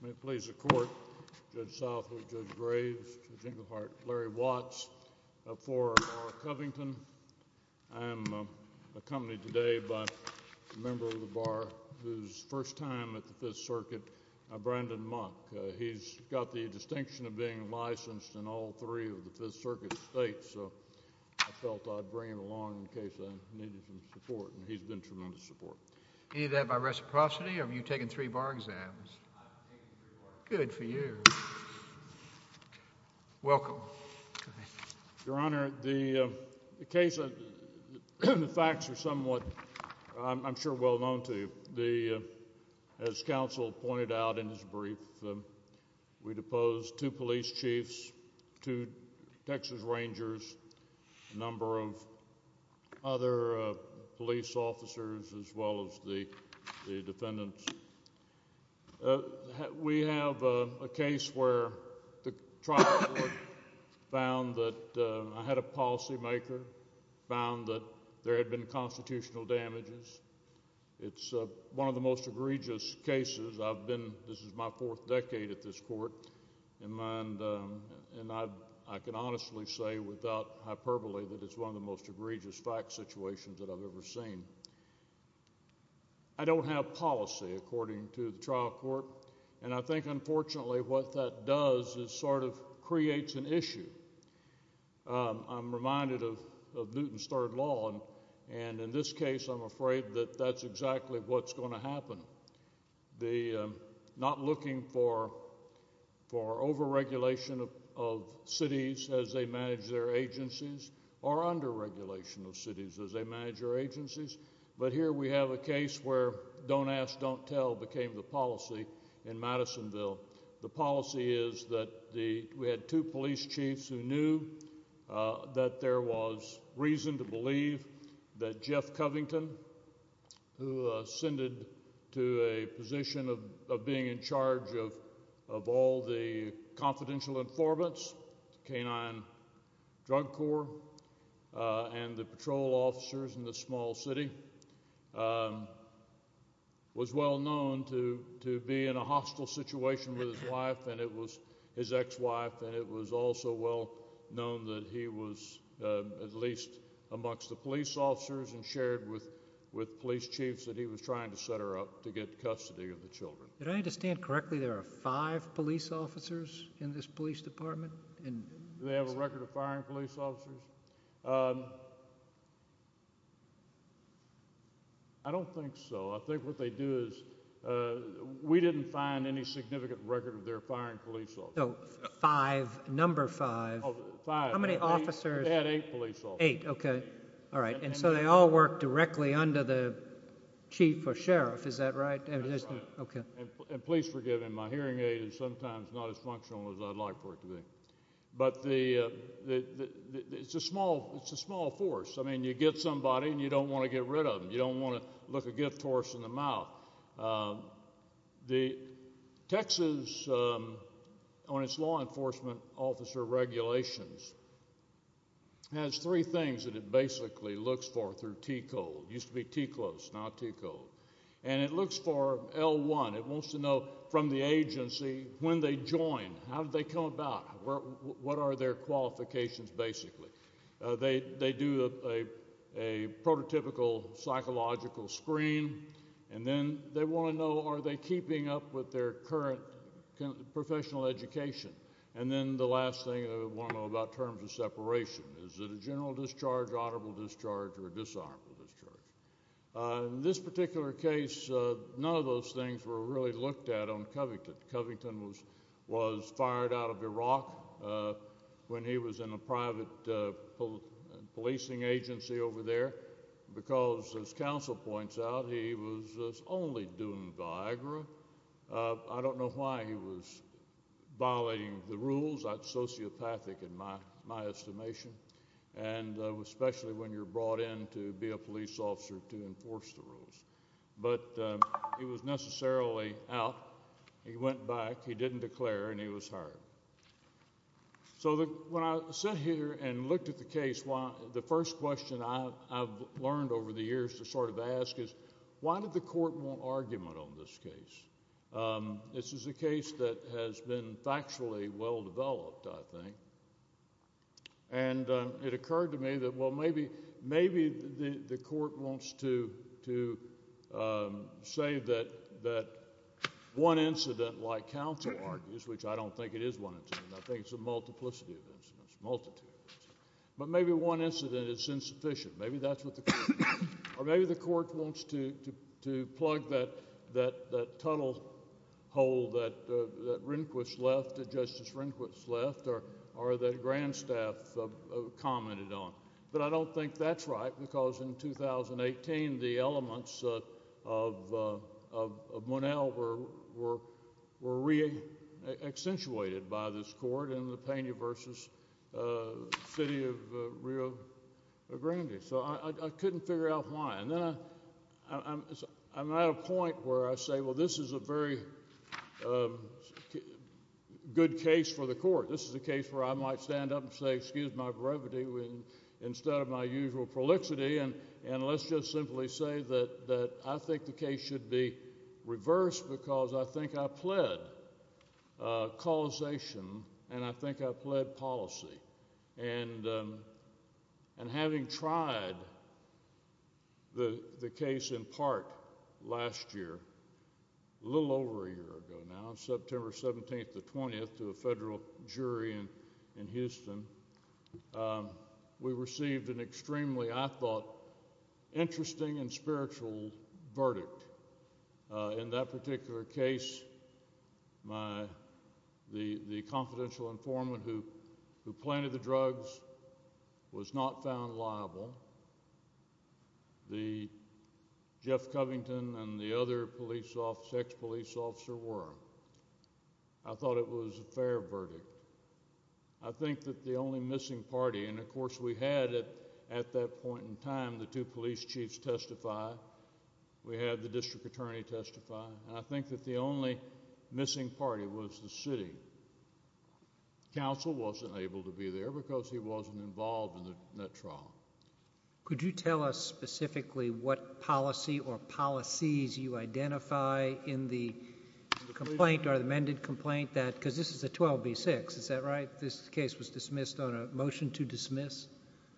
May it please the Court, Judge Southwood, Judge Graves, Judge Inglehart, Larry Watts. For Barr Covington, I am accompanied today by a member of the Bar whose first time at the Fifth Circuit, Brandon Mock. He's got the distinction of being licensed in all three of the Fifth Circuit states, so I felt I'd bring him along in case I needed some support, and he's been tremendous support. Any of that by reciprocity, or have you taken three Bar exams? I've taken three Bar exams. Good for you. Welcome. Your Honor, the case, the facts are somewhat, I'm sure, well known to you. As counsel pointed out in his brief, we deposed two police chiefs, two Texas Rangers, a number of other police officers, as well as the defendants. We have a case where the trial board found that, I had a policymaker, found that there had been constitutional damages. It's one of the most egregious facts situations that I've ever seen. I don't have policy, according to the trial court, and I think, unfortunately, what that does is sort of creates an issue. I'm reminded of Newton's Third Law, and in this case, I'm afraid that that's exactly what's going to happen. Not looking for overregulation of cities as they manage their agencies, or underregulation of cities as they manage their agencies, but here we have a case where don't ask, don't tell became the policy in Madisonville. The policy is that we had two police chiefs who knew that there was reason to believe that Jeff Covington, who ascended to a position of being in charge of all the confidential informants, the Canine Drug Corps, and the patrol officers in this small city, was well known to be in a hostile situation with his ex-wife, and it was also well known that he was at least amongst the police officers and shared with police chiefs that he was trying to set her up to get custody of the children. Did I understand correctly there are five police officers in this police department? Do they have a record of firing police officers? I don't think so. I think what they do is we didn't find any significant record of their firing police officers. So five, number five. Five. How many officers? We've had eight police officers. Eight, okay. All right. And so they all work directly under the chief or sheriff, is that right? That's right. Okay. And please forgive him. My hearing aid is sometimes not as functional as I'd like for it to be. But it's a small force. I mean, you get somebody and you don't want to get rid of them. You don't want to look a gift horse in the mouth. The Texas, on its law enforcement officer regulations, has three things that it basically looks for through T-code. Used to be T-close, not T-code. And it looks for L1. It wants to know from the agency when they join, how did they come about, what are their qualifications basically. They do a prototypical psychological screen. And then they want to know are they keeping up with their current professional education. And then the last thing they want to know about terms of separation. Is it a general discharge, honorable discharge, or a disarmable discharge. In this particular case, none of those things were really looked at on Covington. Covington was fired out of he was only doing Viagra. I don't know why he was violating the rules. That's sociopathic in my estimation. And especially when you're brought in to be a police officer to enforce the rules. But he was necessarily out. He went back. He didn't declare. And he was hired. So when I sat here and looked at the case, the first question I've learned over the years to sort of ask is, why did the court want argument on this case? This is a case that has been factually well-developed, I think. And it occurred to me that, well, maybe the court wants to say that one incident like counsel argues, which I don't think it is one incident. I think it's a multiplicity of incidents, a multitude of incidents. But maybe one incident is insufficient. Maybe that's what the court wants. Or maybe the court wants to plug that tunnel hole that Rehnquist left, that Justice Rehnquist left, or that Grandstaff commented on. But I don't think that's right, because in 2018, the elements of Monell were reaccentuated by this court in the Pena v. City of Rio Grande. So I couldn't figure out why. And then I'm at a point where I say, well, this is a very good case for the court. This is a case where I might stand up and say, excuse my brevity, instead of my usual prolixity, and let's just simply say that I think the case should be reversed because I think I pled causation and I think I pled policy. And having tried the case in part last year, a little over a year ago now, September 17th to 20th, to a federal jury in Houston, we received an extremely, I thought, interesting and spiritual verdict. In that particular case, the confidential informant who planted the drugs was not found liable. The Jeff Covington and the other police officer, ex-police officer, were. I thought it was a fair verdict. I think that the only missing party, and of course we had at that point in time the two police chiefs testify, we had the district attorney testify, and I think that the only missing party was the city. Counsel wasn't able to be there because he wasn't able to testify. I think that the only missing party was the district attorney. I think that the only missing party was the district attorney. Could you tell us specifically what policy or policies you identify in the complaint or the amended complaint that, because this is a 12B6, is that right? This case was dismissed on a motion to dismiss?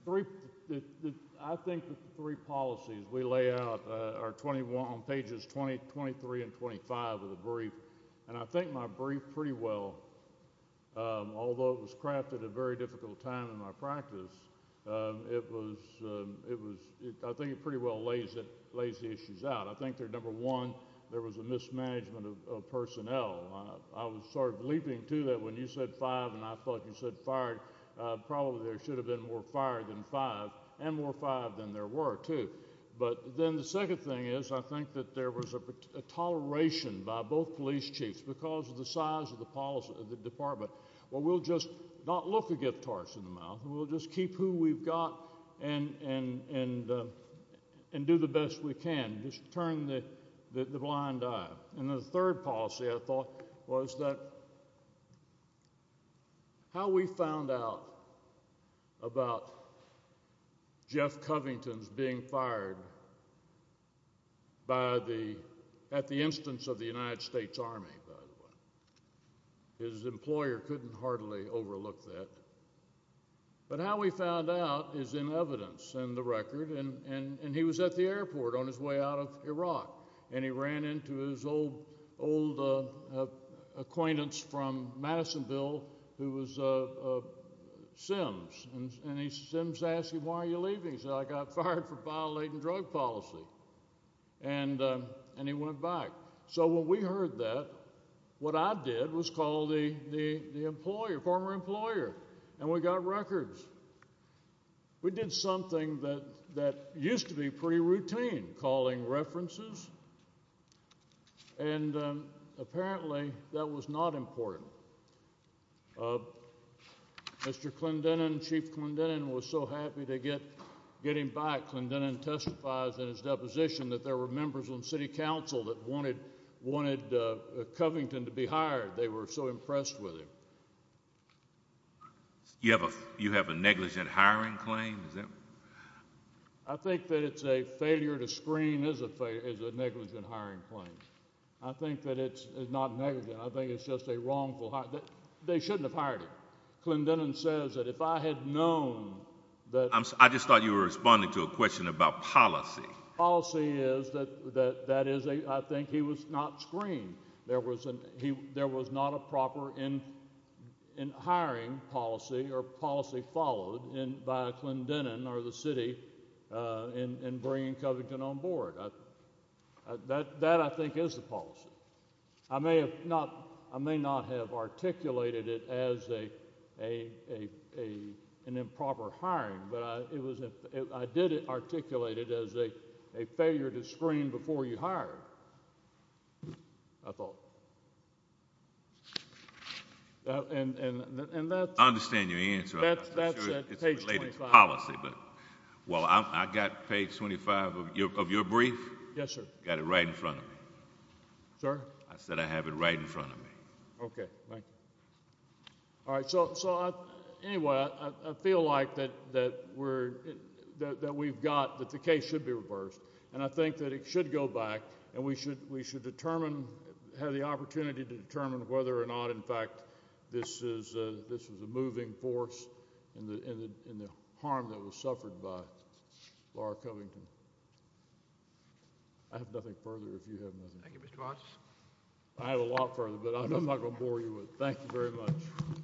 I think the three policies we lay out are 21, on pages 23 and 24. I think it pretty well lays the issues out. I think number one, there was a mismanagement of personnel. I was sort of leaping to that when you said five and I thought you said fired. Probably there should have been more fired than five, and more fired than there were, too. But then the second thing is I think that there was a toleration by both police chiefs because of the size of the department. Well, we'll just not look a gift horse in the mouth. We'll just keep who we've got and do the best we can. Just turn the blind eye. And the third policy I thought was that how we found out about Jeff Covington's being fired at the instance of the United States Army, by the way. His employer couldn't hardly overlook that. But how we found out is in evidence and the record. And he was at the airport on his way out of Iraq. And he ran into his old acquaintance from Madisonville who was a Sims. And Sims asked him, why are you leaving? He said, I got fired for violating drug policy. And he went back. So when we heard that, what I did was call the employer, former employer, and we got records. We did something that used to be pretty routine, calling references. And apparently that was not important. Mr. Clendenin, Chief Clendenin was so happy to get him back. Clendenin testifies in his deposition that there were members on city council that wanted Covington to be hired. They were so impressed with him. You have a negligent hiring claim? I think that it's a failure to screen is a negligent hiring claim. I think that it's not negligent. I think it's just a wrongful hiring. They shouldn't have hired him. Clendenin says that if I had known that... I just thought you were responding to a question about policy. Policy is that I think he was not screened. There was not a proper hiring policy or policy followed by Clendenin or the city in bringing Covington on board. That I think is the policy. I may not have articulated it as an improper hiring, but I did articulate it as a failure to screen before you hired, I thought. I understand your answer. I'm not sure it's related to policy. Well, I've got page 25 of your brief. Yes, sir. I said I have it right in front of me. Okay, thank you. Anyway, I feel like that we've got, that the case should be reversed, and I think that it should go back, and we should have the opportunity to determine whether or not, in fact, this was a moving force in the harm that was suffered by Laura Covington. I have nothing further if you have nothing. Thank you, Mr. Watson. I have a lot further, but I'm not going to bore you with it. Thank you very much.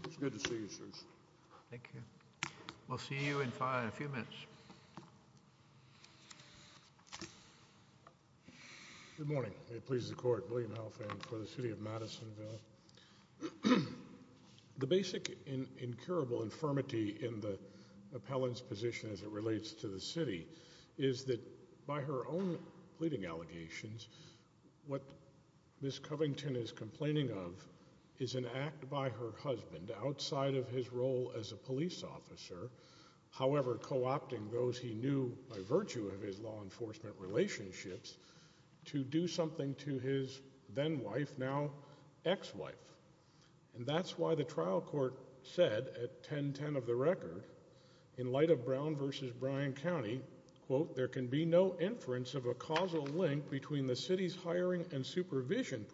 It's good to see you, sirs. Thank you. We'll see you in a few minutes. Good morning. It pleases the Court. William Halfand for the City of Madisonville. The basic incurable infirmity in the appellant's position as it relates to the city is that by her own pleading allegations, what Ms. Covington is complaining of is an act by her husband, outside of his role as a police officer, however co-opting those he knew by virtue of his law enforcement relationships, to do something to his then-wife, now ex-wife. And that's why the trial court said, at 10-10 of the record, in light of Brown v. Bryan County, quote, there can be no inference of a causal link between the city's hiring and supervision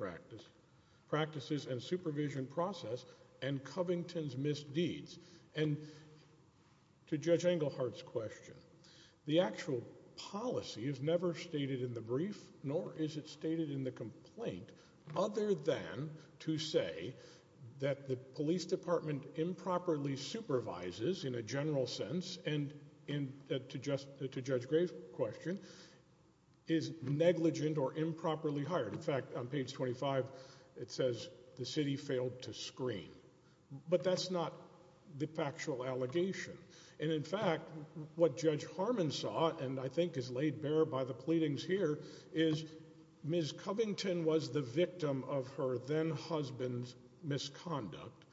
practices and supervision process and Covington's misdeeds. And to Judge Engelhardt's question, the actual policy is never stated in the brief, nor is it stated in the complaint, other than to say that the police department improperly supervises, in a general sense, and to Judge Gray's question, is negligent or improperly hired. In fact, on page 25, it says, the city failed to screen. But that's not the factual allegation. And in fact, what Judge Harmon saw, and I think is laid bare by the pleadings here, is Ms. Covington was the victim of her then-husband's misconduct.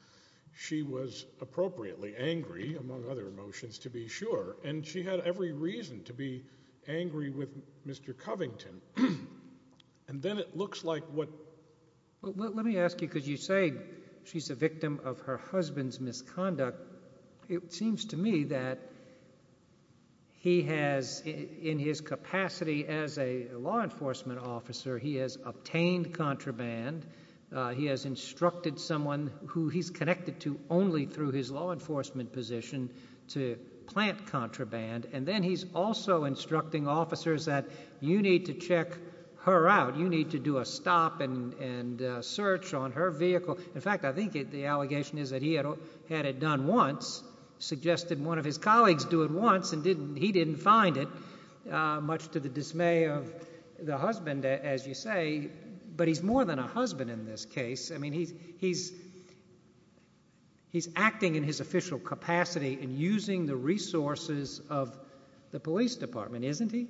She was appropriately angry, among other emotions, to be sure, and she had every reason to be Well, let me ask you, because you say she's the victim of her husband's misconduct. It seems to me that he has, in his capacity as a law enforcement officer, he has obtained contraband. He has instructed someone who he's connected to only through his law enforcement position to plant contraband. And then he's also instructing officers that you need to check her out. You need to do a stop and search on her vehicle. In fact, I think the allegation is that he had it done once, suggested one of his colleagues do it once, and he didn't find it, much to the dismay of the husband, as you say. But he's more than a husband in this case. I mean, he's acting in his official capacity and using the resources of the police department, isn't he?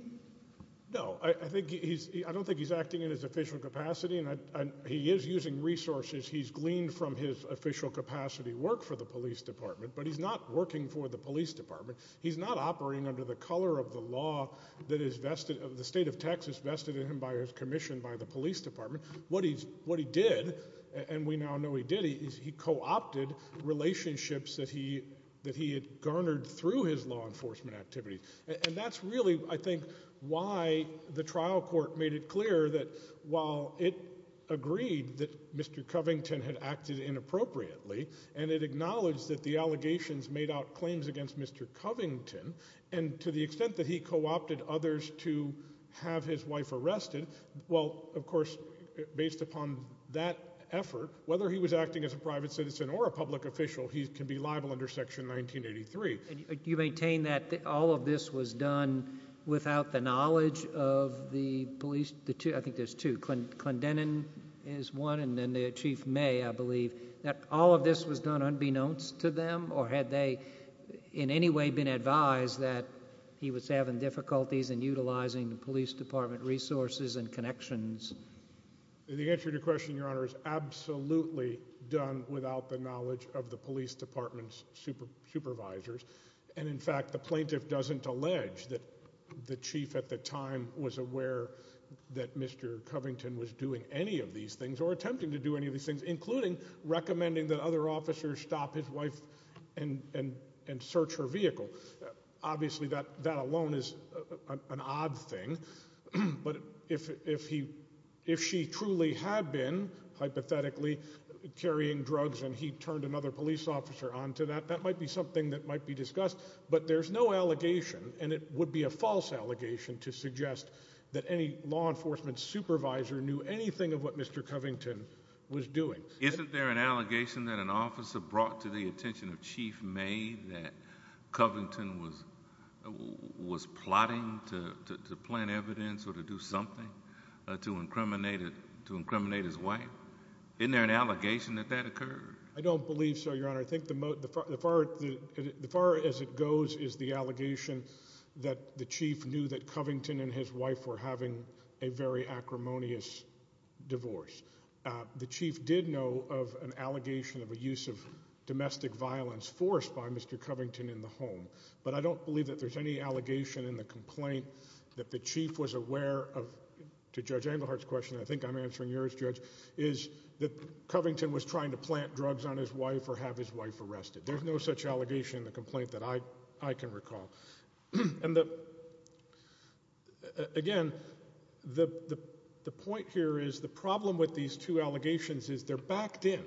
No, I don't think he's acting in his official capacity, and he is using resources. He's gleaned from his official capacity work for the police department, but he's not working for the police department. He's not operating under the color of the law that is vested, the state of Texas vested in him by his commission by the police department. What he did, and we now know he did, is he co-opted relationships that he had garnered through his law enforcement activities. And that's really, I think, why the trial court made it clear that while it agreed that Mr. Covington had acted inappropriately, and it acknowledged that the allegations made out claims against Mr. Covington, and to the extent that he co-opted others to have his wife arrested, well, of course, based upon that effort, whether he was acting as a private citizen or a public official, he can be liable under Section 1983. Do you maintain that all of this was done without the knowledge of the police? I think there's two. Clendenin is one, and then Chief May, I believe. That all of this was done unbeknownst to them, or had they in any way been advised that he was having difficulties in utilizing the police department resources and connections? The answer to your question, Your Honor, is absolutely done without the knowledge of the police department's supervisors. And, in fact, the plaintiff doesn't allege that the chief at the time was aware that Mr. Covington was doing any of these things, or attempting to do any of these things, including recommending that other officers stop his wife and search her vehicle. Obviously, that alone is an odd thing. But if she truly had been, hypothetically, carrying drugs and he turned another police officer onto that, that might be something that might be discussed. But there's no allegation, and it would be a false allegation, to suggest that any law enforcement supervisor knew anything of what Mr. Covington was doing. Isn't there an allegation that an officer brought to the attention of Chief May that Covington was plotting to plant evidence or to do something to incriminate his wife? Isn't there an allegation that that occurred? I don't believe so, Your Honor. I think the far as it goes is the allegation that the chief knew that Covington and his wife were having a very acrimonious divorce. The chief did know of an allegation of a use of domestic violence forced by Mr. Covington in the home. But I don't believe that there's any allegation in the complaint that the chief was aware of, to Judge Englehart's question, and I think I'm answering yours, Judge, is that Covington was trying to plant drugs on his wife or have his wife arrested. There's no such allegation in the complaint that I can recall. Again, the point here is the problem with these two allegations is they're backed in,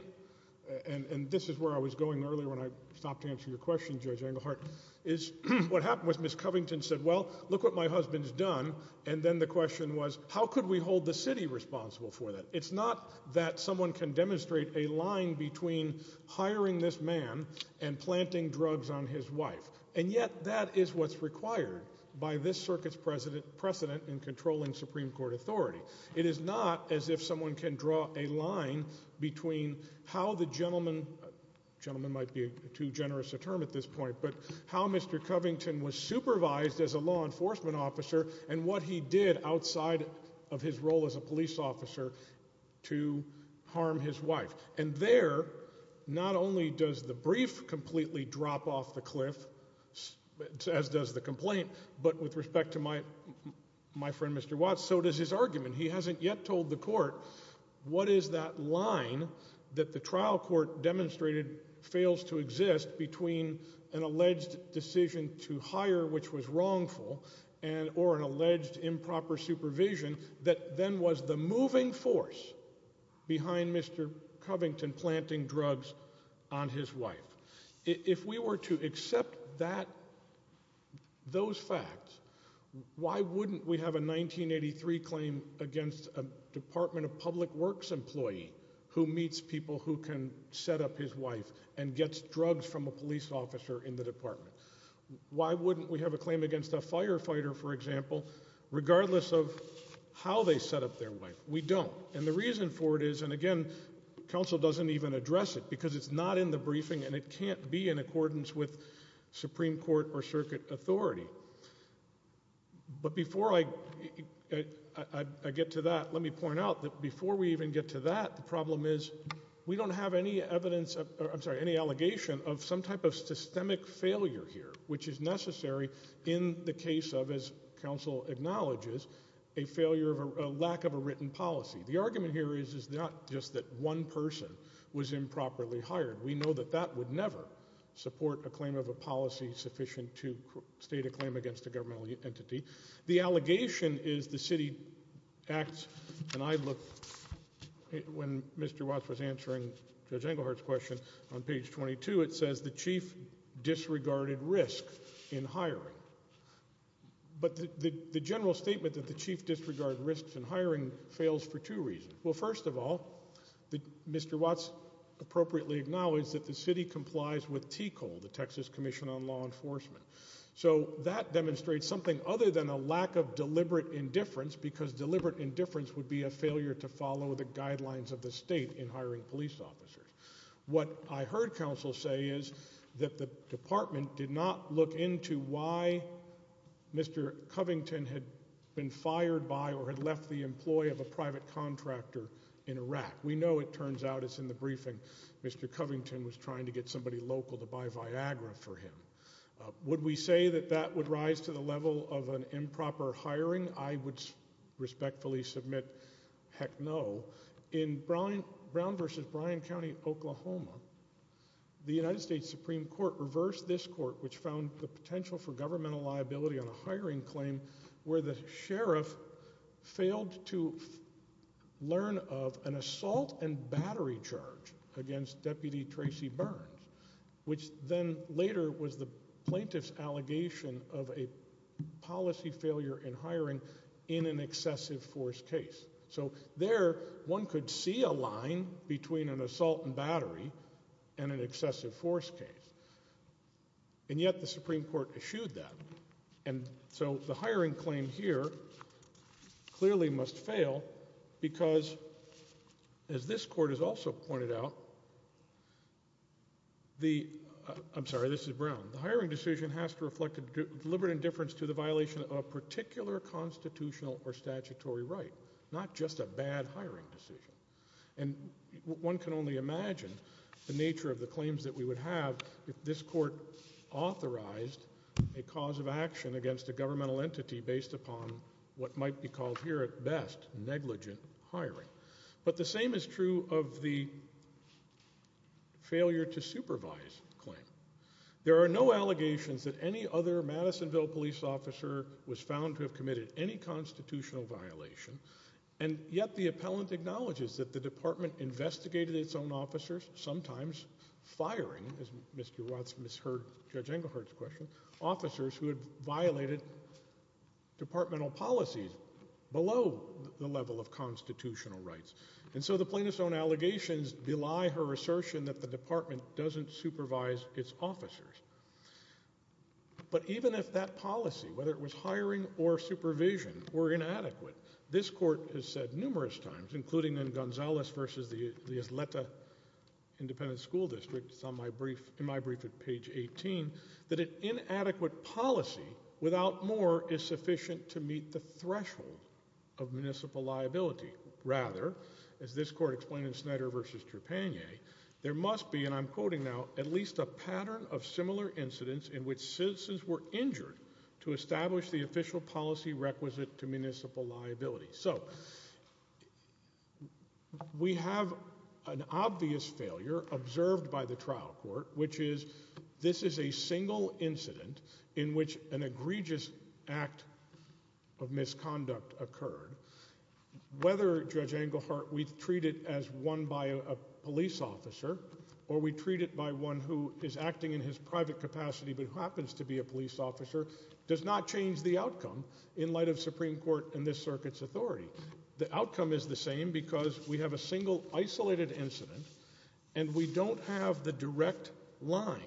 and this is where I was going earlier when I stopped to answer your question, Judge Englehart, is what happened was Ms. Covington said, well, look what my husband's done, and then the question was how could we hold the city responsible for that? It's not that someone can demonstrate a line between hiring this man and planting drugs on his wife. And yet that is what's required by this circuit's precedent in controlling Supreme Court authority. It is not as if someone can draw a line between how the gentleman – the gentleman might be too generous a term at this point – but how Mr. Covington was supervised as a law enforcement officer and what he did outside of his role as a police officer to harm his wife. And there, not only does the brief completely drop off the cliff, as does the complaint, but with respect to my friend Mr. Watts, so does his argument. He hasn't yet told the court what is that line that the trial court demonstrated fails to exist between an alleged decision to hire which was wrongful or an alleged improper supervision that then was the moving force behind Mr. Covington planting drugs on his wife. If we were to accept that – those facts, why wouldn't we have a 1983 claim against a Department of Public Works employee who meets people who can set up his wife and gets drugs from a police officer in the department? Why wouldn't we have a claim against a firefighter, for example, regardless of how they set up their wife? We don't, and the reason for it is – and again, counsel doesn't even address it because it's not in the briefing and it can't be in accordance with Supreme Court or circuit authority. But before I get to that, let me point out that before we even get to that, the problem is we don't have any evidence – which is necessary in the case of, as counsel acknowledges, a lack of a written policy. The argument here is not just that one person was improperly hired. We know that that would never support a claim of a policy sufficient to state a claim against a governmental entity. The allegation is the city acts – and I look – when Mr. Watts was answering Judge Engelhardt's question on page 22, it says the chief disregarded risk in hiring. But the general statement that the chief disregarded risks in hiring fails for two reasons. Well, first of all, Mr. Watts appropriately acknowledged that the city complies with TCOL, the Texas Commission on Law Enforcement. So that demonstrates something other than a lack of deliberate indifference because deliberate indifference would be a failure to follow the guidelines of the state in hiring police officers. What I heard counsel say is that the department did not look into why Mr. Covington had been fired by or had left the employ of a private contractor in Iraq. We know it turns out it's in the briefing Mr. Covington was trying to get somebody local to buy Viagra for him. Would we say that that would rise to the level of an improper hiring? I would respectfully submit heck no. In Brown versus Bryan County, Oklahoma, the United States Supreme Court reversed this court which found the potential for governmental liability on a hiring claim where the sheriff failed to learn of an assault and battery charge against Deputy Tracy Burns, which then later was the plaintiff's allegation of a policy failure in hiring in an excessive force case. So there one could see a line between an assault and battery and an excessive force case. And yet the Supreme Court eschewed that. And so the hiring claim here clearly must fail because as this court has also pointed out, I'm sorry this is Brown, the hiring decision has to reflect deliberate indifference to the violation of a particular constitutional or statutory right, not just a bad hiring decision. And one can only imagine the nature of the claims that we would have if this court authorized a cause of action against a governmental entity based upon what might be called here at best negligent hiring. But the same is true of the failure to supervise claim. There are no allegations that any other Madisonville police officer was found to have committed any constitutional violation. And yet the appellant acknowledges that the department investigated its own officers, sometimes firing, as Mr. Watts misheard Judge Engelhardt's question, officers who had violated departmental policies below the level of constitutional rights. And so the plaintiff's own allegations belie her assertion that the department doesn't supervise its officers. But even if that policy, whether it was hiring or supervision, were inadequate, this court has said numerous times, including in Gonzalez versus the Isleta Independent School District, it's in my brief at page 18, that an inadequate policy without more is sufficient to meet the threshold of municipal liability. Rather, as this court explained in Snyder versus Trepanier, there must be, and I'm quoting now, at least a pattern of similar incidents in which citizens were injured to establish the official policy requisite to municipal liability. So we have an obvious failure observed by the trial court, which is this is a single incident in which an egregious act of misconduct occurred. Whether, Judge Engelhardt, we treat it as one by a police officer, or we treat it by one who is acting in his private capacity but who happens to be a police officer, does not change the outcome in light of Supreme Court and this circuit's authority. The outcome is the same because we have a single isolated incident, and we don't have the direct line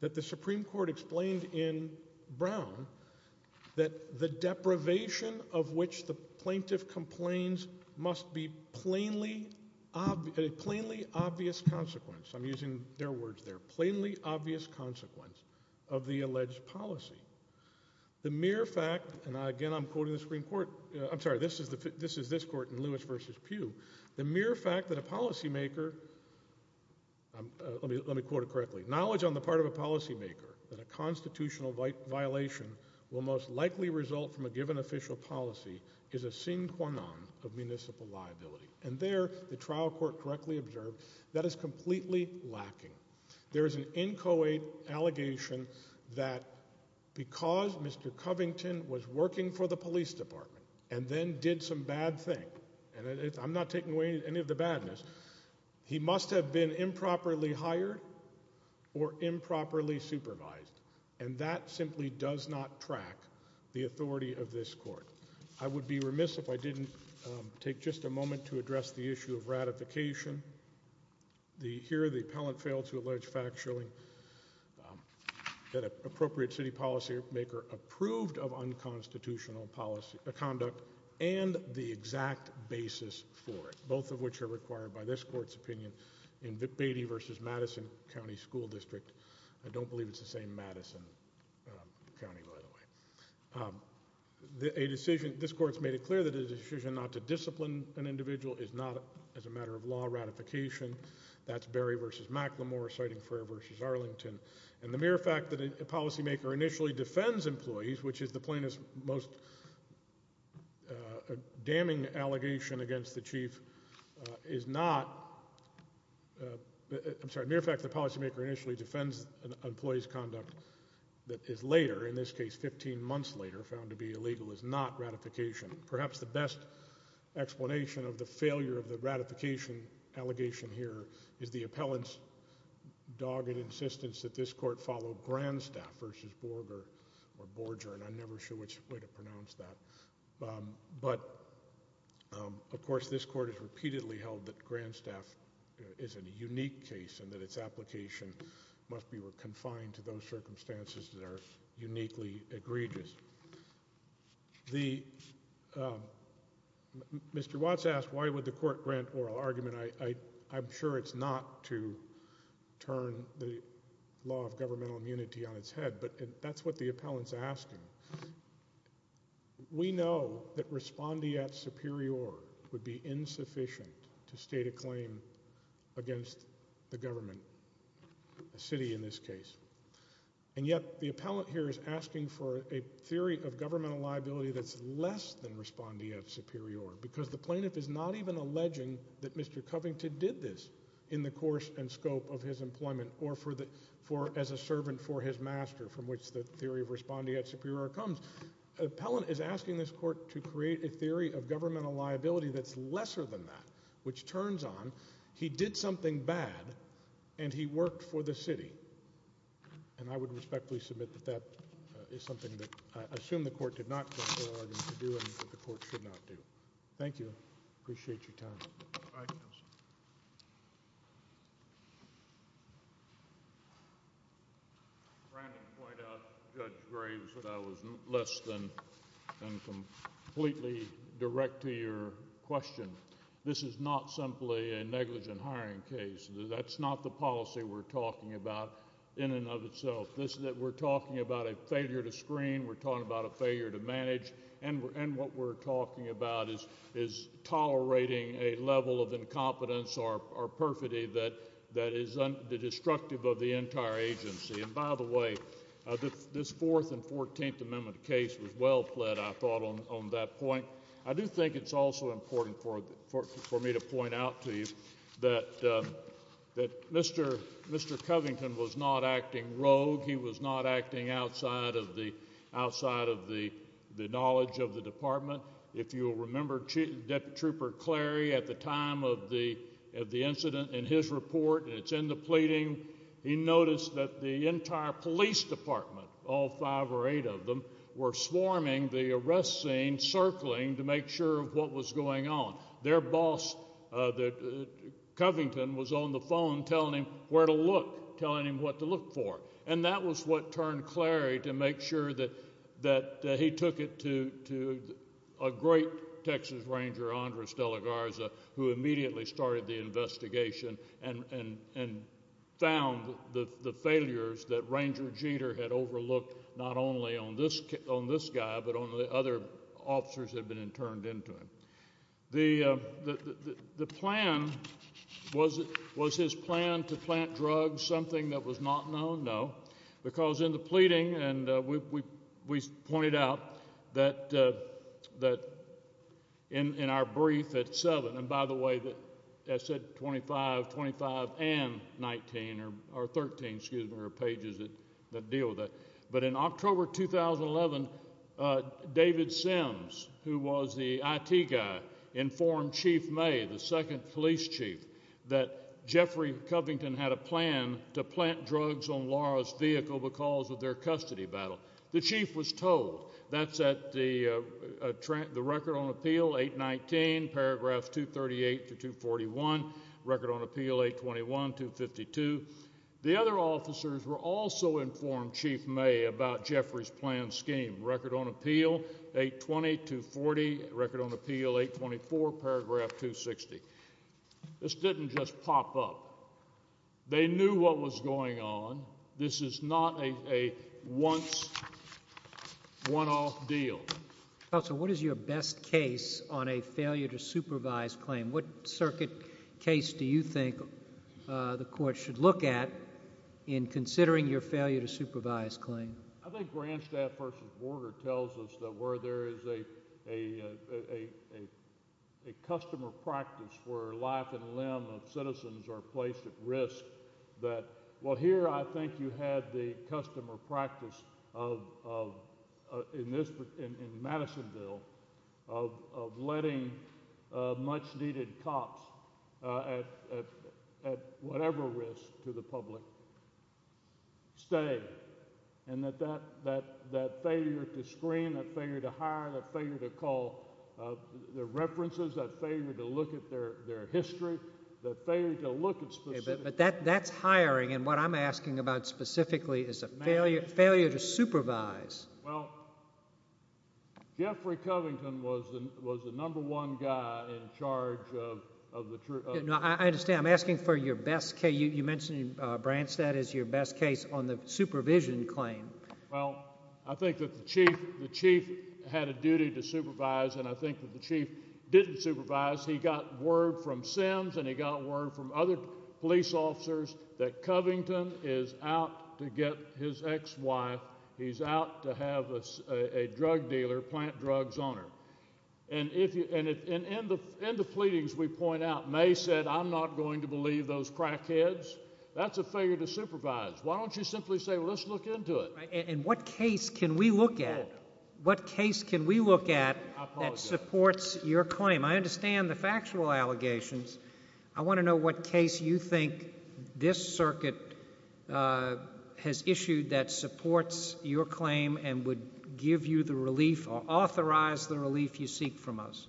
that the Supreme Court explained in Brown that the deprivation of which the plaintiff complains must be a plainly obvious consequence. I'm using their words there, plainly obvious consequence of the alleged policy. The mere fact, and again I'm quoting the Supreme Court, I'm sorry, this is this court in Lewis versus Pugh, the mere fact that a policymaker, let me quote it correctly, knowledge on the part of a policymaker that a constitutional violation will most likely result from a given official policy is a sine qua non of municipal liability. And there the trial court correctly observed that is completely lacking. There is an inchoate allegation that because Mr. Covington was working for the police department and then did some bad thing, and I'm not taking away any of the badness, he must have been improperly hired or improperly supervised. And that simply does not track the authority of this court. I would be remiss if I didn't take just a moment to address the issue of ratification. Here the appellant failed to allege factually that an appropriate city policymaker approved of unconstitutional conduct and the exact basis for it, both of which are required by this court's opinion in Beatty versus Madison County School District. I don't believe it's the same Madison County, by the way. A decision, this court's made it clear that a decision not to discipline an individual is not as a matter of law ratification. That's Berry versus McLemore, citing Frere versus Arlington. And the mere fact that a policymaker initially defends employees, which is the plainest, most damning allegation against the chief, is not, I'm sorry, the mere fact that a policymaker initially defends an employee's conduct that is later, in this case 15 months later, found to be illegal is not ratification. Perhaps the best explanation of the failure of the ratification allegation here is the appellant's dogged insistence that this court follow Grandstaff versus Borger or Borger, and I'm never sure which way to pronounce that. But, of course, this court has repeatedly held that Grandstaff is a unique case and that its application must be confined to those circumstances that are uniquely egregious. Mr. Watts asked why would the court grant oral argument. I'm sure it's not to turn the law of governmental immunity on its head, but that's what the appellant's asking. We know that respondeat superior would be insufficient to state a claim against the government, a city in this case. And yet the appellant here is asking for a theory of governmental liability that's less than respondeat superior because the plaintiff is not even alleging that Mr. Covington did this in the course and scope of his employment or as a servant for his master, from which the theory of respondeat superior comes. The appellant is asking this court to create a theory of governmental liability that's lesser than that, which turns on he did something bad and he worked for the city. And I would respectfully submit that that is something that I assume the court did not grant oral argument to do and that the court should not do. Thank you. Appreciate your time. Thank you, counsel. Thank you. Brandon pointed out, Judge Graves, that I was less than completely direct to your question. This is not simply a negligent hiring case. That's not the policy we're talking about in and of itself. We're talking about a failure to screen. We're talking about a failure to manage. And what we're talking about is tolerating a level of incompetence or perfidy that is destructive of the entire agency. And, by the way, this Fourth and Fourteenth Amendment case was well-fled, I thought, on that point. I do think it's also important for me to point out to you that Mr. Covington was not acting rogue. He was not acting outside of the knowledge of the department. If you'll remember, Deputy Trooper Clary, at the time of the incident in his report, and it's in the pleading, he noticed that the entire police department, all five or eight of them, were swarming the arrest scene, circling to make sure of what was going on. Their boss, Covington, was on the phone telling him where to look, telling him what to look for. And that was what turned Clary to make sure that he took it to a great Texas ranger, Andres De La Garza, who immediately started the investigation and found the failures that Ranger Jeter had overlooked, not only on this guy but on the other officers that had been interned into him. The plan, was his plan to plant drugs something that was not known? No, because in the pleading, and we pointed out that in our brief at 7, and by the way, I said 25, 25 and 19, or 13, excuse me, or pages that deal with that. But in October 2011, David Sims, who was the IT guy, informed Chief May, the second police chief, that Jeffrey Covington had a plan to plant drugs on Laura's vehicle because of their custody battle. The chief was told. That's at the record on appeal, 819, paragraphs 238-241, record on appeal 821-252. The other officers were also informed, Chief May, about Jeffrey's planned scheme, record on appeal 820-240, record on appeal 824, paragraph 260. This didn't just pop up. They knew what was going on. This is not a once, one-off deal. Counsel, what is your best case on a failure to supervise claim? What circuit case do you think the Court should look at in considering your failure to supervise claim? I think Grandstaff v. Borger tells us that where there is a customer practice where life and limb of citizens are placed at risk, that, well, here I think you had the customer practice in Madisonville of letting much-needed cops at whatever risk to the public stay, and that failure to screen, that failure to hire, that failure to call the references, that failure to look at their history, that failure to look at specific— But that's hiring, and what I'm asking about specifically is a failure to supervise. Well, Jeffrey Covington was the number one guy in charge of the— No, I understand. I'm asking for your best case. You mentioned, Branstad, is your best case on the supervision claim. Well, I think that the chief had a duty to supervise, and I think that the chief didn't supervise. He got word from Sims, and he got word from other police officers that Covington is out to get his ex-wife. He's out to have a drug dealer plant drugs on her. And in the pleadings we point out, May said, I'm not going to believe those crackheads. That's a failure to supervise. Why don't you simply say, well, let's look into it? And what case can we look at? What case can we look at that supports your claim? I understand the factual allegations. I want to know what case you think this circuit has issued that supports your claim and would give you the relief or authorize the relief you seek from us.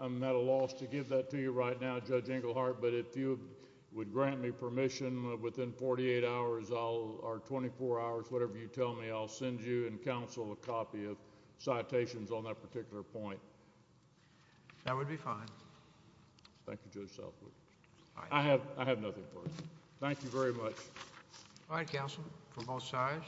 I'm at a loss to give that to you right now, Judge Engelhardt, but if you would grant me permission within 48 hours or 24 hours, whatever you tell me, I'll send you and counsel a copy of citations on that particular point. That would be fine. Thank you, Judge Selfridge. I have nothing for you. Thank you very much. All right, counsel, for both sides.